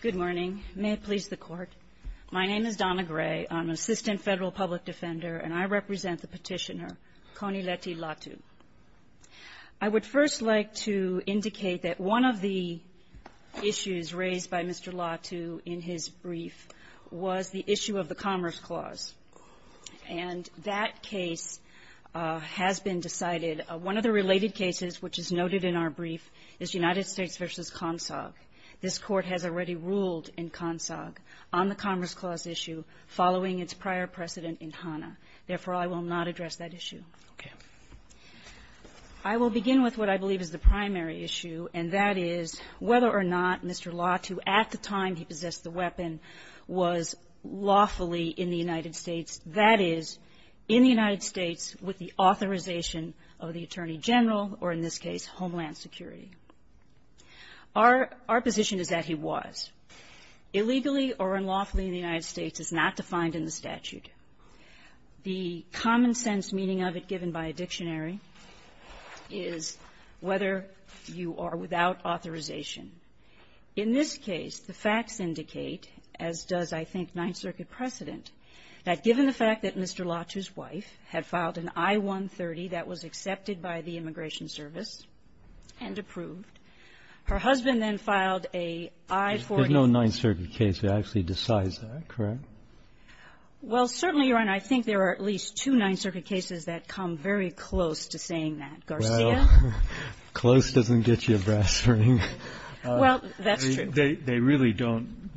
Good morning. May it please the Court. My name is Donna Gray. I'm an Assistant Federal Public Defender, and I represent the petitioner, Connie Letty LATU. I would first like to indicate that one of the issues raised by Mr. LATU in his brief was the issue of the Commerce Clause. And that case has been decided. One of the related cases, which is noted in our This Court has already ruled in CONSOG on the Commerce Clause issue following its prior precedent in HANA. Therefore, I will not address that issue. I will begin with what I believe is the primary issue, and that is whether or not Mr. LATU at the time he possessed the weapon was lawfully in the United States, that is, in the United Our position is that he was. Illegally or unlawfully in the United States is not defined in the statute. The common-sense meaning of it given by a dictionary is whether you are without authorization. In this case, the facts indicate, as does, I think, Ninth Circuit precedent, that given the fact that Mr. LATU's wife had filed an I-130 that was accepted by the Immigration Service and approved, her husband then filed a I-40. There's no Ninth Circuit case that actually decides that, correct? Well, certainly, Your Honor, I think there are at least two Ninth Circuit cases that come very close to saying that. Garcia? Well, close doesn't get you a brass ring. Well, that's true. They really don't.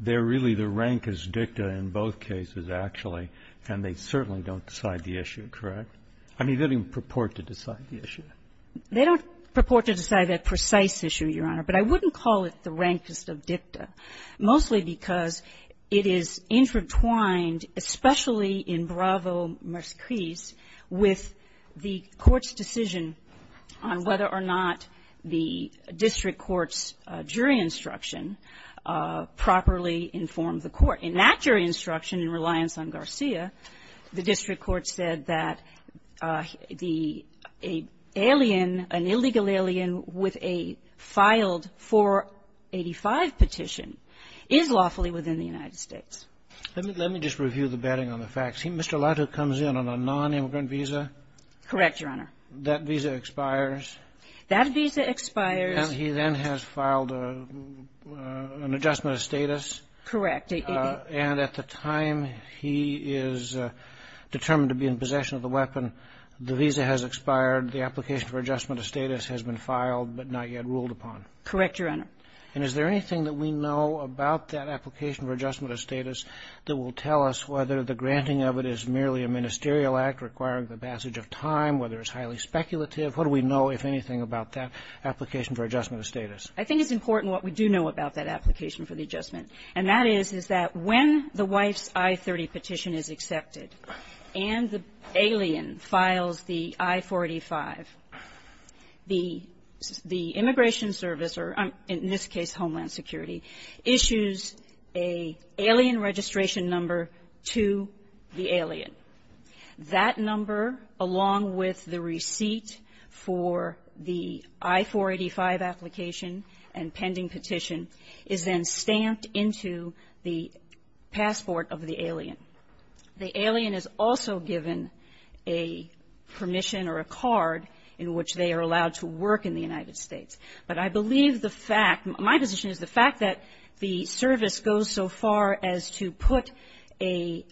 They're really the rank is dicta in both cases, actually. And they certainly don't decide the issue, correct? I mean, they don't even purport to decide the issue. They don't purport to decide that precise issue, Your Honor. But I wouldn't call it the rankest of dicta, mostly because it is intertwined, especially in Bravo-Mars Cris, with the Court's decision on whether or not the district court's jury instruction properly informed the court. In that jury instruction, in reliance on Garcia, the alien, an illegal alien with a filed 485 petition is lawfully within the United States. Let me just review the bedding on the facts. Mr. Lato comes in on a nonimmigrant visa. Correct, Your Honor. That visa expires. That visa expires. And he then has filed an adjustment of status. Correct. And at the time he is determined to be in possession of the weapon, the visa has expired. The application for adjustment of status has been filed but not yet ruled upon. Correct, Your Honor. And is there anything that we know about that application for adjustment of status that will tell us whether the granting of it is merely a ministerial act requiring the passage of time, whether it's highly speculative? What do we know, if anything, about that application for adjustment of status? I think it's important what we do know about that application for the adjustment, and that is, is that when the wife's I-30 petition is accepted and the alien files the I-485, the immigration service, or in this case, Homeland Security, issues an alien registration number to the alien. That number, along with the receipt and pending petition, is then stamped into the passport of the alien. The alien is also given a permission or a card in which they are allowed to work in the United States. But I believe the fact, my position is the fact that the service goes so far as to put a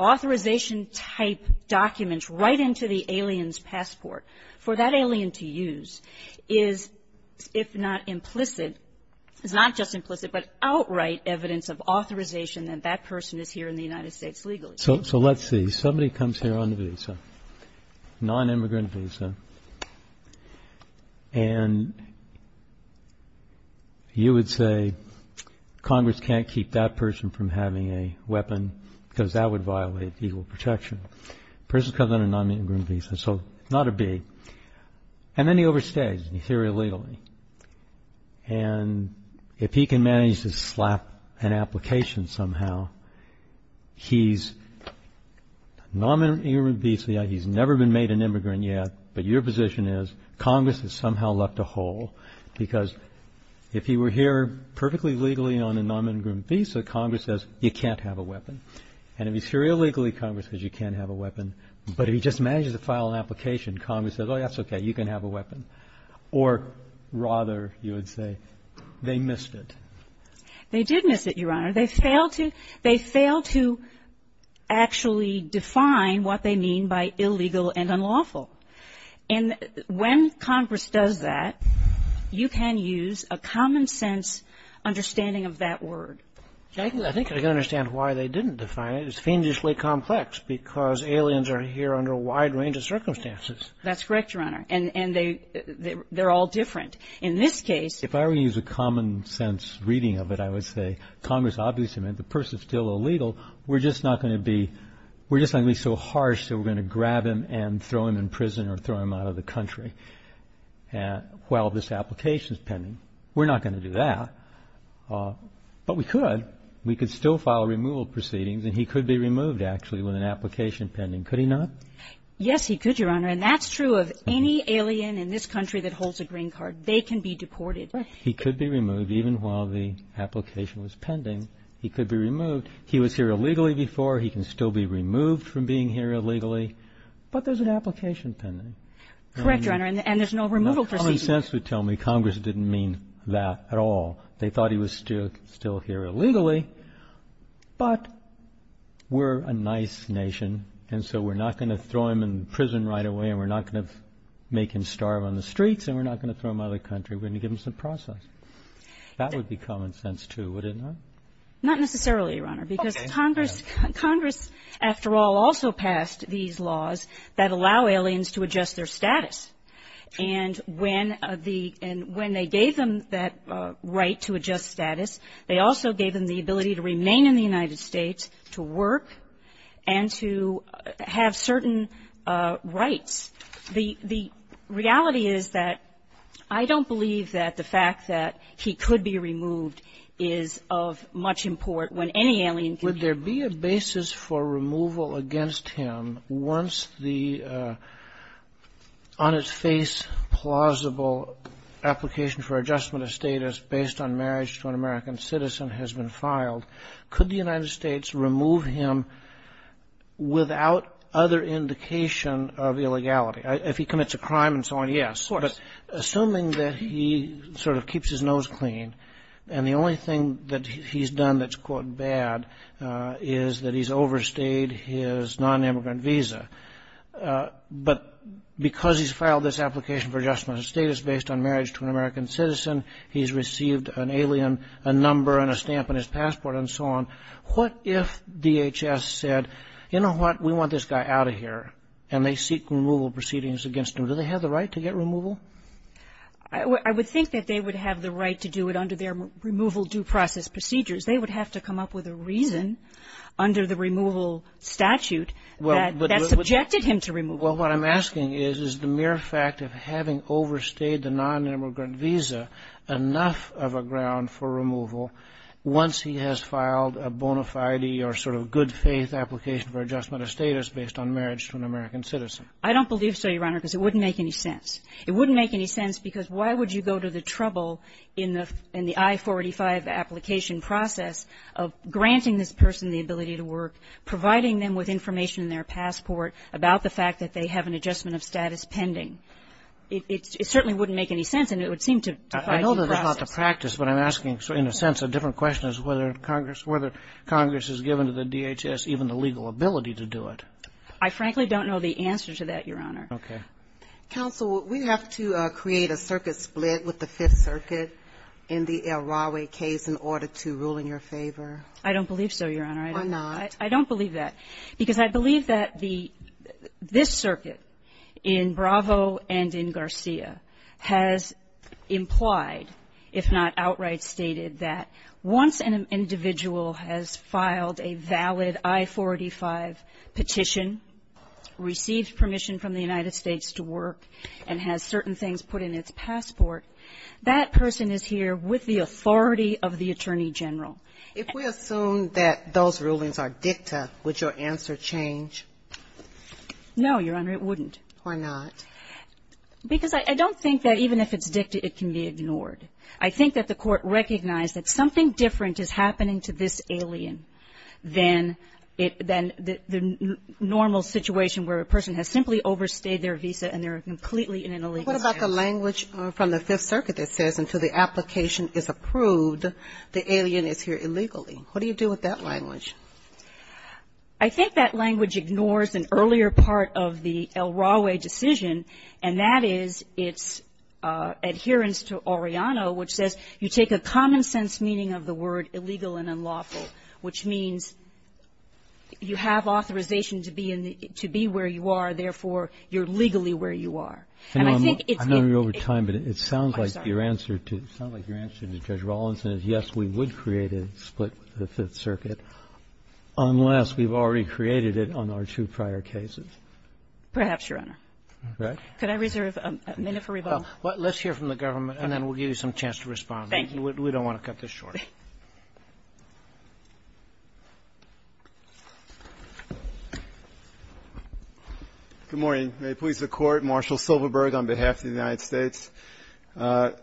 authorization-type document right into the alien's passport. For that alien to use is, if not implicit, is not just implicit, but outright evidence of authorization that that person is here in the United States legally. So let's see. Somebody comes here on a visa, nonimmigrant visa, and you would say Congress can't keep that person from having a weapon because that would violate legal protection. Person comes on a nonimmigrant visa, so not a B, and then he overstays, in theory, illegally. And if he can manage to slap an application somehow, he's a nonimmigrant visa, he's never been made an immigrant yet, but your position is Congress has somehow left a hole because if he were here perfectly legally on a weapon, but if he just manages to file an application, Congress says, oh, that's okay, you can have a weapon. Or rather, you would say, they missed it. They did miss it, Your Honor. They failed to actually define what they mean by illegal and unlawful. And when Congress does that, you can use a common-sense understanding of that word. I think I can understand why they didn't define it. It's fiendishly complex because aliens are here under a wide range of circumstances. That's correct, Your Honor. And they're all different. In this case, If I were to use a common-sense reading of it, I would say Congress obviously meant the person is still illegal. We're just not going to be so harsh that we're going to grab him and throw him in prison or throw him out of the country while this application is pending. We're not going to do that. But we could. We could still file removal proceedings, and he could be removed, actually, with an application pending. Could he not? Yes, he could, Your Honor. And that's true of any alien in this country that holds a green card. They can be deported. He could be removed even while the application was pending. He could be removed. He was here illegally before. He can still be removed from being here illegally. But there's an application pending. Correct, Your Honor. And there's no removal proceedings. Common sense would tell me Congress didn't mean that at all. They thought he was still here illegally. But we're a nice nation, and so we're not going to throw him in prison right away, and we're not going to make him starve on the streets, and we're not going to throw him out of the country. We're going to give him some process. That would be common sense, too, would it not? Not necessarily, Your Honor, because Congress, after all, also passed these laws that allow aliens to adjust their status. And when they gave them that right to adjust status, they also gave them the ability to remain in the United States, to work, and to have certain rights. The reality is that I don't believe that the fact that he could be removed is of much import when any alien could be removed. The basis for removal against him, once the on-its-face plausible application for adjustment of status based on marriage to an American citizen has been filed, could the United States remove him without other indication of illegality? If he commits a crime and so on, yes. Of course. But assuming that he sort of keeps his nose clean, and the only thing that he's done that's, quote, bad is that he's overstayed his nonimmigrant visa. But because he's filed this application for adjustment of status based on marriage to an American citizen, he's received an alien, a number, and a stamp on his passport, and so on, what if DHS said, you know what, we want this guy out of here, and they seek removal proceedings against him? Do they have the right to get removal? I would think that they would have the right to do it under their removal due process procedures. They would have to come up with a reason under the removal statute that subjected him to removal. Well, what I'm asking is, is the mere fact of having overstayed the nonimmigrant visa enough of a ground for removal once he has filed a bona fide or sort of good-faith application for adjustment of status based on marriage to an American citizen? I don't believe so, Your Honor, because it wouldn't make any sense. It wouldn't make any sense, because why would you go to the trouble in the I-485 application process of granting this person the ability to work, providing them with information in their passport about the fact that they have an adjustment of status pending? It certainly wouldn't make any sense, and it would seem to defy due process. I know that's not the practice, but I'm asking, in a sense, a different question as whether Congress has given to the DHS even the legal ability to do it. I frankly don't know the answer to that, Your Honor. Okay. Counsel, we have to create a circuit split with the Fifth Circuit in the El Rawe case in order to rule in your favor. I don't believe so, Your Honor. Why not? I don't believe that, because I believe that the this circuit in Bravo and in Garcia has implied, if not outright stated, that once an individual has filed a valid I-485 petition, received permission from the United States to work, and has certain things put in its passport, that person is here with the authority of the Attorney General. If we assume that those rulings are dicta, would your answer change? No, Your Honor, it wouldn't. Why not? Because I don't think that even if it's dicta, it can be ignored. I think that the Court recognized that something different is happening to this alien than the normal situation where a person has simply overstayed their visa and they're completely in an illegal status. But what about the language from the Fifth Circuit that says, until the application is approved, the alien is here illegally? What do you do with that language? I think that language ignores an earlier part of the El Rawe decision, and that is its adherence to Orellano, which says you take a common-sense meaning of the word legal and unlawful, which means you have authorization to be in the -- to be where you are, therefore, you're legally where you are. And I think it's been ---- I know we're over time, but it sounds like your answer to Judge Rawlinson is, yes, we would create a split with the Fifth Circuit, unless we've already created it on our two prior cases. Perhaps, Your Honor. Right? Could I reserve a minute for rebuttal? Let's hear from the government, and then we'll give you some chance to respond. Thank you. We don't want to cut this short. Good morning. May it please the Court. Marshall Silverberg on behalf of the United States. The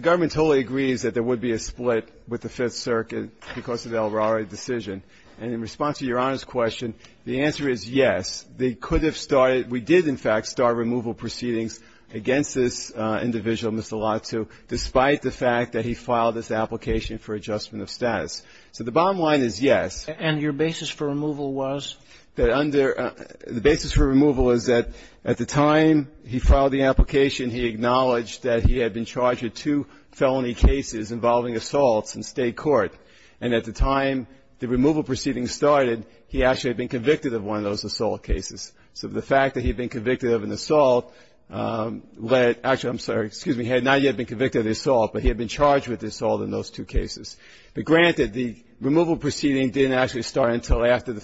government totally agrees that there would be a split with the Fifth Circuit because of the El Rawe decision. And in response to Your Honor's question, the answer is yes. They could have started ---- we did, in fact, start removal proceedings against this individual, Mr. Lattu, despite the fact that he filed this application for adjustment of status. So the bottom line is yes. And your basis for removal was? That under ---- the basis for removal is that at the time he filed the application, he acknowledged that he had been charged with two felony cases involving assaults in State court. And at the time the removal proceedings started, he actually had been convicted of one of those assault cases. So the fact that he had been convicted of an assault led ---- actually, I'm sorry, excuse me, he had not yet been convicted of the assault, but he had been charged with assault in those two cases. But granted, the removal proceeding didn't actually start until after the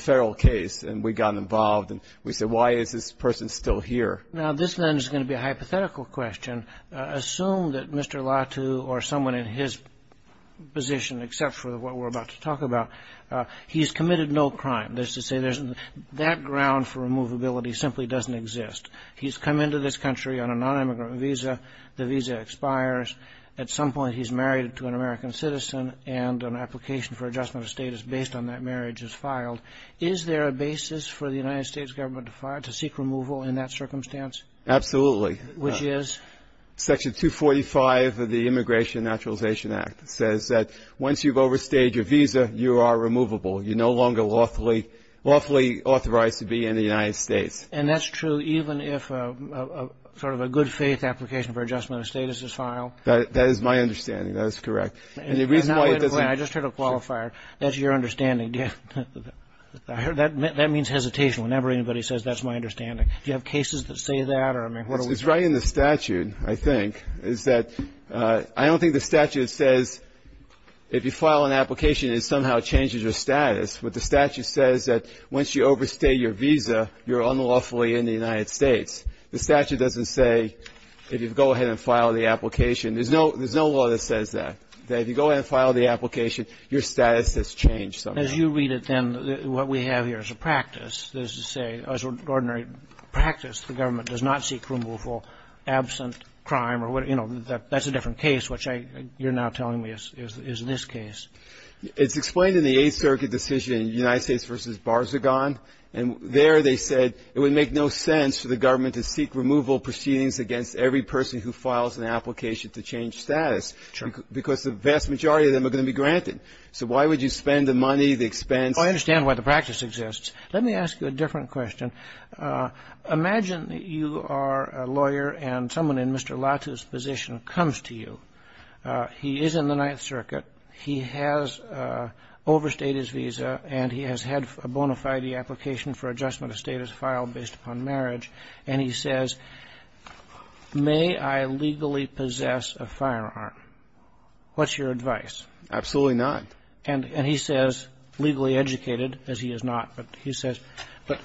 federal case, and we got involved and we said, why is this person still here? Now, this, then, is going to be a hypothetical question. Assume that Mr. Lattu or someone in his position, except for what we're about to talk about, he's committed no crime. That's to say there's no ---- that ground for removability simply doesn't exist. He's come into this country on a nonimmigrant visa. The visa expires. At some point, he's married to an American citizen and an application for adjustment of status based on that marriage is filed. Is there a basis for the United States government to seek removal in that circumstance? Absolutely. Which is? Section 245 of the Immigration and Naturalization Act says that once you've overstayed your visa, you are removable. You're no longer lawfully authorized to be in the United States. And that's true even if sort of a good faith application for adjustment of status is filed. That is my understanding. That is correct. And the reason why it doesn't ---- I just heard a qualifier. That's your understanding. That means hesitation. Whenever anybody says, that's my understanding. Do you have cases that say that? Or, I mean, what are we talking about? What's right in the statute, I think, is that I don't think the statute says if you file an application, it somehow changes your status, but the statute says that once you overstay your visa, you're unlawfully in the United States. The statute doesn't say if you go ahead and file the application. There's no law that says that, that if you go ahead and file the application, your status has changed somehow. As you read it, then, what we have here is a practice that is to say, as an ordinary practice, the government does not seek removal for absent crime or, you know, that's a different case, which I ---- you're now telling me is this case. It's explained in the Eighth Circuit decision, United States v. Barzagon. And there they said it would make no sense for the government to seek removal proceedings against every person who files an application to change status. Because the vast majority of them are going to be granted. So why would you spend the money, the expense? I understand why the practice exists. Let me ask you a different question. Imagine that you are a lawyer and someone in Mr. Latu's position comes to you. He is in the Ninth Circuit. He has overstayed his visa and he has had a bona fide application for adjustment of status filed based upon marriage, and he says, may I legally possess a firearm? What's your advice? Absolutely not. And he says, legally educated, as he is not, but he says, but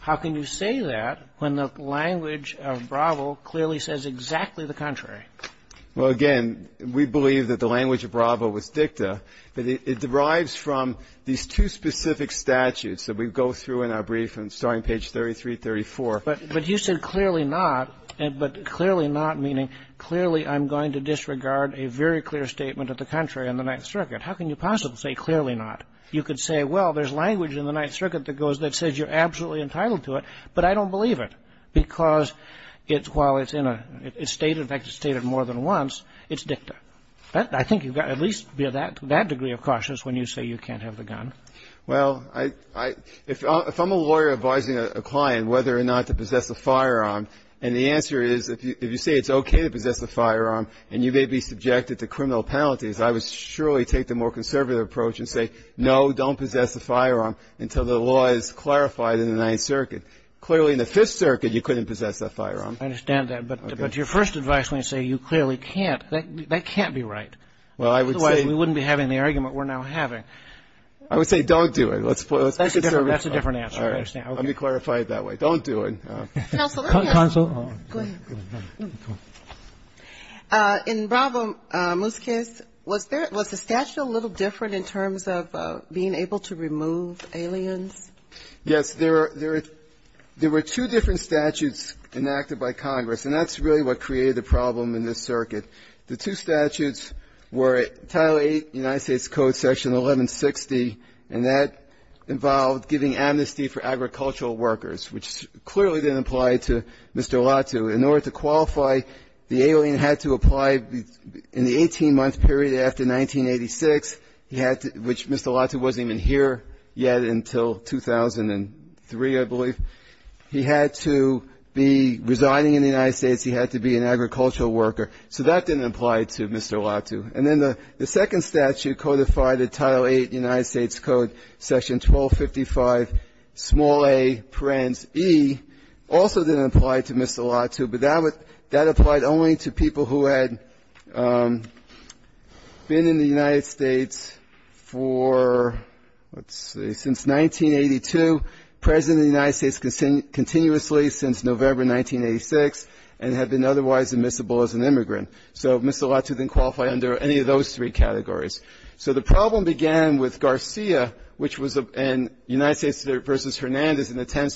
how can you say that when the language of Bravo clearly says exactly the contrary? Well, again, we believe that the language of Bravo was dicta. It derives from these two specific statutes that we go through in our brief, starting page 33, 34. But you said clearly not, but clearly not meaning clearly I'm going to disregard a very clear statement of the contrary in the Ninth Circuit. How can you possibly say clearly not? You could say, well, there's language in the Ninth Circuit that goes, that says you're absolutely entitled to it, but I don't believe it because it's while it's in a state, in fact, it's stated more than once, it's dicta. I think you've got to at least be to that degree of cautious when you say you can't have the gun. Well, if I'm a lawyer advising a client whether or not to possess a firearm, and the answer is if you say it's okay to possess a firearm and you may be subjected to criminal penalties, I would surely take the more conservative approach and say, no, don't possess a firearm until the law is clarified in the Ninth Circuit. Clearly in the Fifth Circuit, you couldn't possess that firearm. I understand that. But your first advice when you say you clearly can't, that can't be right. Well, I would say we wouldn't be having the argument we're now having. I would say don't do it. That's a different answer. Let me clarify it that way. Don't do it. Counsel, go ahead. In Bravo-Muskis, was the statute a little different in terms of being able to remove aliens? Yes. There were two different statutes enacted by Congress, and that's really what created the problem in this circuit. The two statutes were Title VIII United States Code, Section 1160, and that involved giving amnesty for agricultural workers, which clearly didn't apply to Mr. Olatu. In order to qualify, the alien had to apply in the 18-month period after 1986, which Mr. Olatu wasn't even here yet until 2003, I believe. He had to be residing in the United States. He had to be an agricultural worker. So that didn't apply to Mr. Olatu. And then the second statute codified the Title VIII United States Code, Section 1255, small a, parens e, also didn't apply to Mr. Olatu, but that applied only to people who had been in the United States for, let's see, since 1982, present in the United States continuously since November 1986, and had been otherwise admissible as an immigrant. So Mr. Olatu didn't qualify under any of those three categories. So the problem began with Garcia, which was in United States v. Hernandez in the Tenth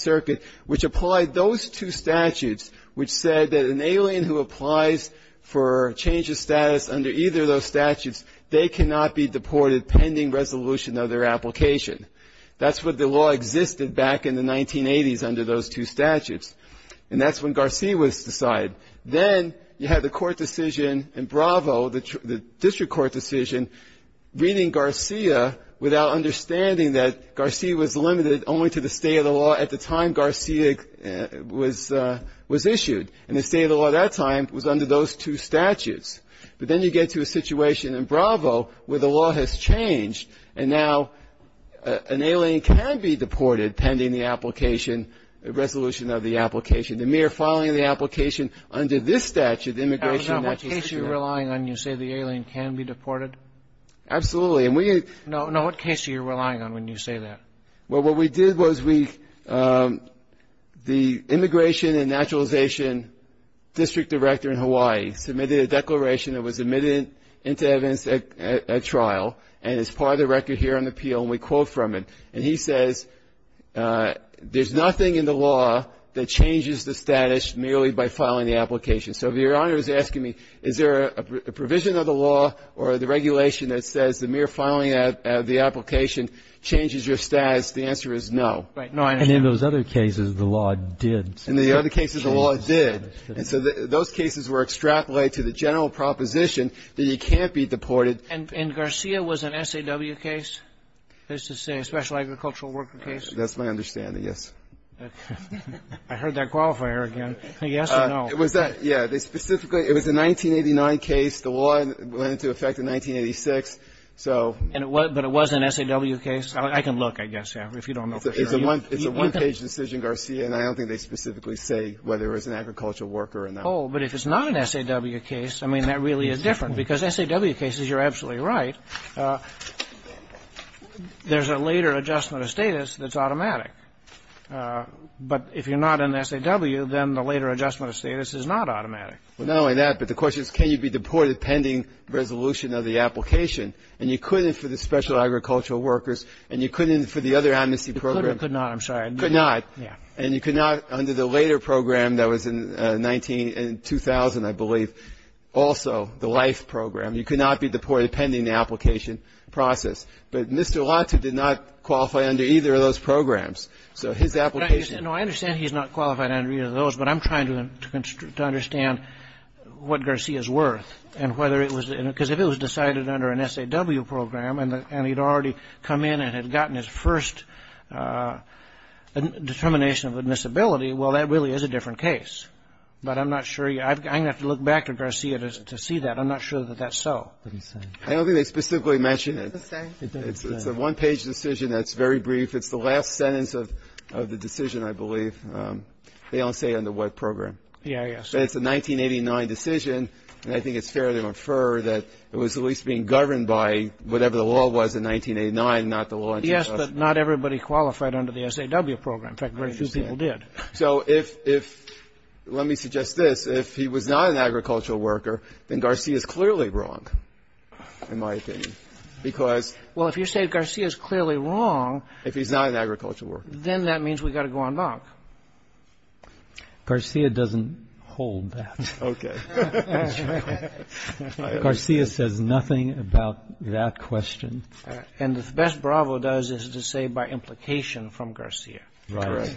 for change of status under either of those statutes, they cannot be deported pending resolution of their application. That's what the law existed back in the 1980s under those two statutes. And that's when Garcia was decided. Then you had the court decision in Bravo, the district court decision, reading Garcia without understanding that Garcia was limited only to the state of the law at the time Garcia was issued. And the state of the law at that time was under those two statutes. But then you get to a situation in Bravo where the law has changed, and now an alien can be deported pending the application, resolution of the application. The mere filing of the application under this statute, immigration in that case did not do it. Roberts, what case are you relying on when you say the alien can be deported? Absolutely. And we had no no. What case are you relying on when you say that? Well, what we did was we the immigration and naturalization district director in Hawaii submitted a declaration that was admitted into evidence at trial and is part of the record here on the appeal. And we quote from it. And he says, there's nothing in the law that changes the status merely by filing the application. So if your honor is asking me, is there a provision of the law or the regulation that says the mere filing of the application changes your status, the answer is no. And in those other cases, the law did. In the other cases, the law did. And so those cases were extrapolated to the general proposition that you can't be deported. And Garcia was an SAW case, as to say, a Special Agricultural Worker case? That's my understanding, yes. I heard that qualifier again. Yes or no? It was that. Yeah. Specifically, it was a 1989 case. The law went into effect in 1986, so. But it was an SAW case? I can look, I guess, if you don't know for sure. It's a one-page decision, Garcia, and I don't think they specifically say whether it was an agricultural worker or not. Oh, but if it's not an SAW case, I mean, that really is different. Because SAW cases, you're absolutely right. There's a later adjustment of status that's automatic. But if you're not an SAW, then the later adjustment of status is not automatic. Well, not only that, but the question is, can you be deported pending resolution of the application? And you couldn't for the Special Agricultural Workers, and you couldn't for the other amnesty program. You could or could not. I'm sorry. Could not. Yeah. And you could not under the later program that was in 19 and 2000, I believe, also, the LIFE program. You could not be deported pending the application process. But Mr. Latu did not qualify under either of those programs. So his application No, I understand he's not qualified under either of those, but I'm trying to understand what Garcia's worth and whether it was because if it was decided under an SAW program and he'd already come in and had gotten his first determination of admissibility, well, that really is a different case. But I'm not sure. I'm going to have to look back to Garcia to see that. I'm not sure that that's so. I don't think they specifically mentioned it. It's a one-page decision that's very brief. It's the last sentence of the decision, I believe. They don't say under what program. Yeah, yes. It's a 1989 decision, and I think it's fair to infer that it was at least being governed by whatever the law was in 1989, not the law in 2000. Yes, but not everybody qualified under the SAW program. In fact, very few people did. So if, let me suggest this. If he was not an agricultural worker, then Garcia's clearly wrong, in my opinion. Because. Well, if you say Garcia's clearly wrong. If he's not an agricultural worker. Then that means we've got to go on lock. Garcia doesn't hold that. Okay. Garcia says nothing about that question. And the best Bravo does is to say by implication from Garcia. Right.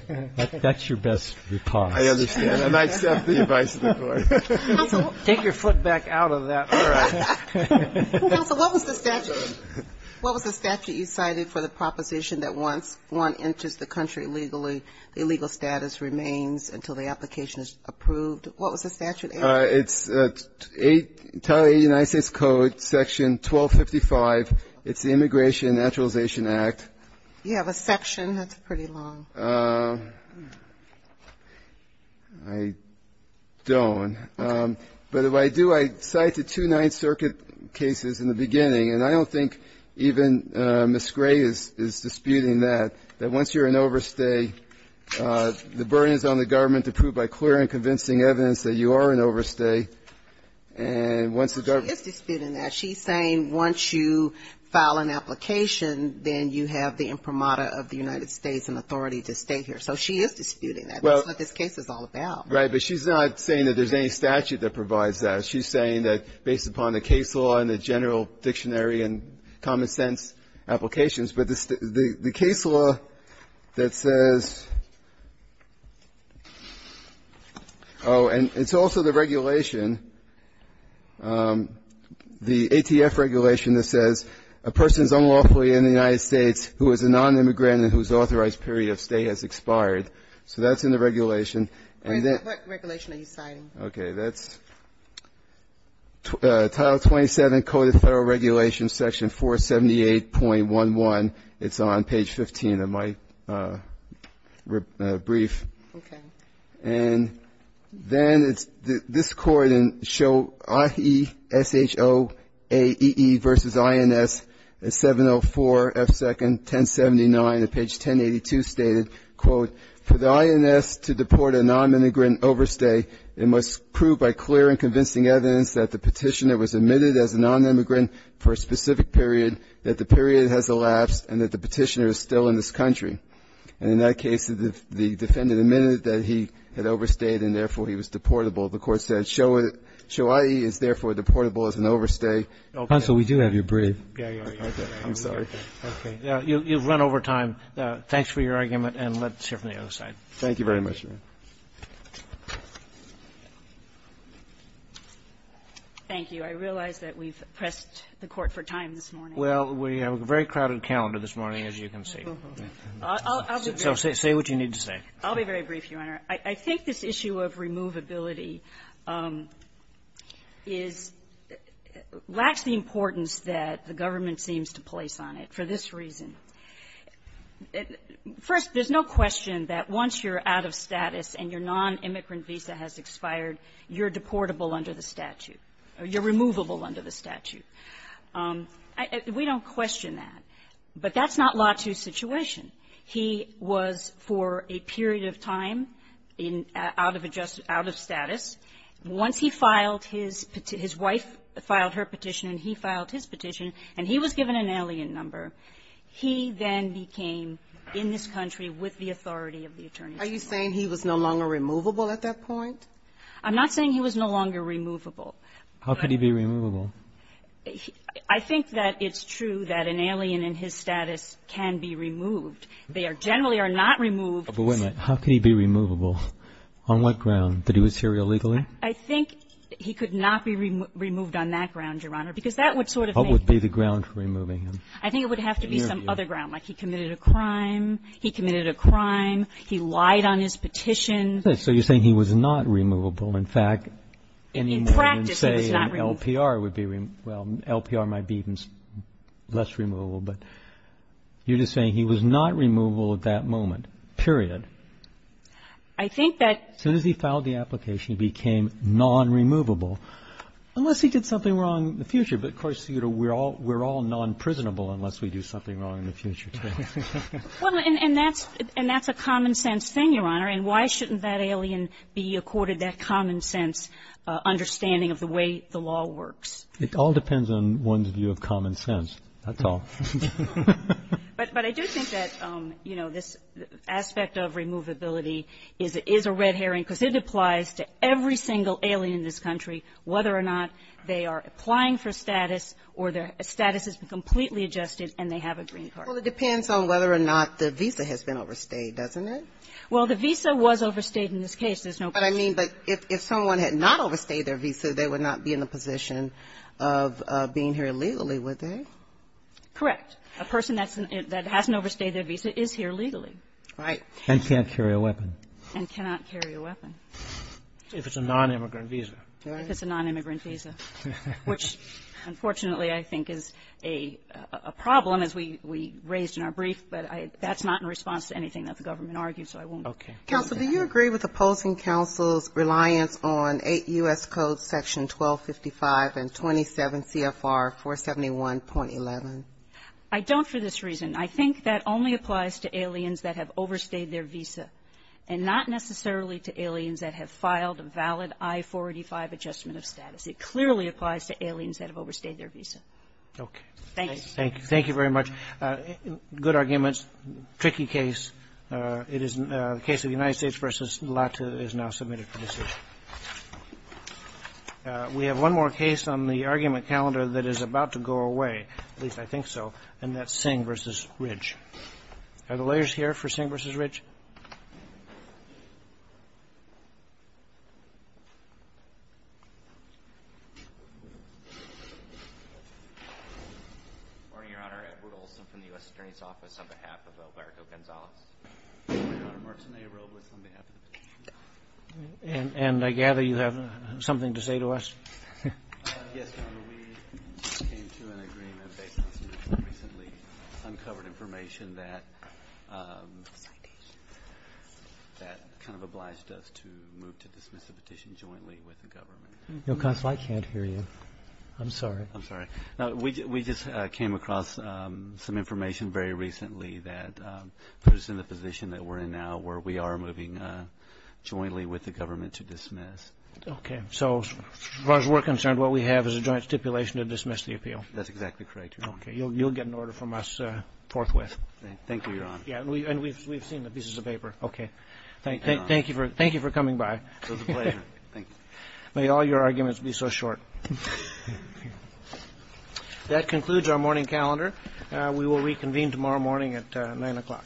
That's your best repost. I understand, and I accept the advice of the Court. Take your foot back out of that. All right. Counsel, what was the statute you cited for the proposition that once one enters the country illegally, the illegal status remains until the application is approved? What was the statute? It's Title VIII of the United States Code, Section 1255. It's the Immigration and Naturalization Act. You have a section. That's pretty long. I don't. But if I do, I cite the two Ninth Circuit cases in the beginning. And I don't think even Ms. Gray is disputing that, that once you're in overstay, the burden is on the government to prove by clear and convincing evidence that you are in overstay. And once the government. She is disputing that. She's saying once you file an application, then you have the imprimatur of the United States and authority to stay here. So she is disputing that. That's what this case is all about. Right. But she's not saying that there's any statute that provides that. She's saying that based upon the case law and the general dictionary and common sense applications. But the case law that says, oh, and it's also the regulation, the ATF regulation that says a person is unlawfully in the United States who is a non-immigrant and whose authorized period of stay has expired. So that's in the regulation. What regulation are you citing? Okay. That's Title 27, Code of Federal Regulations, Section 478.11. It's on page 15 of my brief. Okay. And then it's this court in show, IE, SHO, AEE versus INS, 704, F2, 1079, and page 1082 stated, quote, For the INS to deport a non-immigrant overstay, it must prove by clear and convincing evidence that the Petitioner was admitted as a non-immigrant for a specific period, that the period has elapsed, and that the Petitioner is still in this country. And in that case, the defendant admitted that he had overstayed and therefore he was deportable. The court said SHO, IE is therefore deportable as an overstay. Okay. Counsel, we do have your brief. Yeah, yeah. I'm sorry. Okay. You've run over time. Thanks for your argument, and let's hear from the other side. Thank you very much, Your Honor. Thank you. I realize that we've pressed the Court for time this morning. Well, we have a very crowded calendar this morning, as you can see. So say what you need to say. I'll be very brief, Your Honor. I think this issue of removability is lacks the importance that the government seems to place on it for this reason. First, there's no question that once you're out of status and your non-immigrant visa has expired, you're deportable under the statute, or you're removable under the statute. We don't question that. But that's not Lotu's situation. He was for a period of time in out of adjustment, out of status. Once he filed his petition, his wife filed her petition, and he filed his petition. And he was given an alien number. He then became, in this country, with the authority of the attorney general. Are you saying he was no longer removable at that point? I'm not saying he was no longer removable. How could he be removable? I think that it's true that an alien in his status can be removed. They are generally are not removed. But wait a minute. How could he be removable? On what ground? Did he was here illegally? I think he could not be removed on that ground, Your Honor, because that would be the ground for removing him. I think it would have to be some other ground, like he committed a crime, he committed a crime, he lied on his petition. So you're saying he was not removable. In fact, any more than say an LPR would be removable. Well, an LPR might be even less removable. But you're just saying he was not removable at that moment, period. I think that as soon as he filed the application, he became non-removable, unless he did something wrong in the future. But of course, we're all non-prisonable unless we do something wrong in the future, too. Well, and that's a common sense thing, Your Honor. And why shouldn't that alien be accorded that common sense understanding of the way the law works? It all depends on one's view of common sense. That's all. But I do think that this aspect of removability is a red herring, because it depends on whether or not they are applying for status or their status has been completely adjusted and they have a green card. Well, it depends on whether or not the visa has been overstayed, doesn't it? Well, the visa was overstayed in this case. There's no question. But I mean, but if someone had not overstayed their visa, they would not be in the position of being here illegally, would they? Correct. A person that's an — that hasn't overstayed their visa is here legally. Right. And can't carry a weapon. And cannot carry a weapon. If it's a nonimmigrant visa. If it's a nonimmigrant visa. Which, unfortunately, I think is a problem, as we raised in our brief. But I — that's not in response to anything that the government argued, so I won't comment on that. Counsel, do you agree with opposing counsel's reliance on 8 U.S. Code Section 1255 and 27 CFR 471.11? I don't for this reason. I think that only applies to aliens that have overstayed their visa, and not necessarily to aliens that have filed a valid I-485 adjustment of status. It clearly applies to aliens that have overstayed their visa. Okay. Thanks. Thank you. Thank you very much. Good arguments. Tricky case. It is the case of the United States v. LATA is now submitted for decision. We have one more case on the argument calendar that is about to go away, at least Are the lawyers here for Singh v. Ridge? Good morning, Your Honor. Edward Olson from the U.S. Attorney's Office on behalf of Alberto Gonzalez. Good morning, Your Honor. Marcin A. Robles on behalf of the defense. And I gather you have something to say to us? Yes, Your Honor. Citation. Citation. Citation. Citation. Citation. Citation. Citation. Citation. Citation. Citation. Citation. That kind of obliged us to move to dismiss the petition jointly with the government. I can't hear you. I'm sorry. I'm sorry. Now, we just came across some information very recently that puts us in the position that we're in now where we are moving jointly with the government to dismiss. Okay. So, as far as we're concerned, what we have is a joint stipulation to dismiss the appeal. That's exactly correct, Your Honor. Okay. You'll get an order from us forthwith. Thank you, Your Honor. And we've seen the pieces of paper. Okay. Thank you for coming by. It was a pleasure. Thank you. May all your arguments be so short. That concludes our morning calendar. We will reconvene tomorrow morning at 9 o'clock.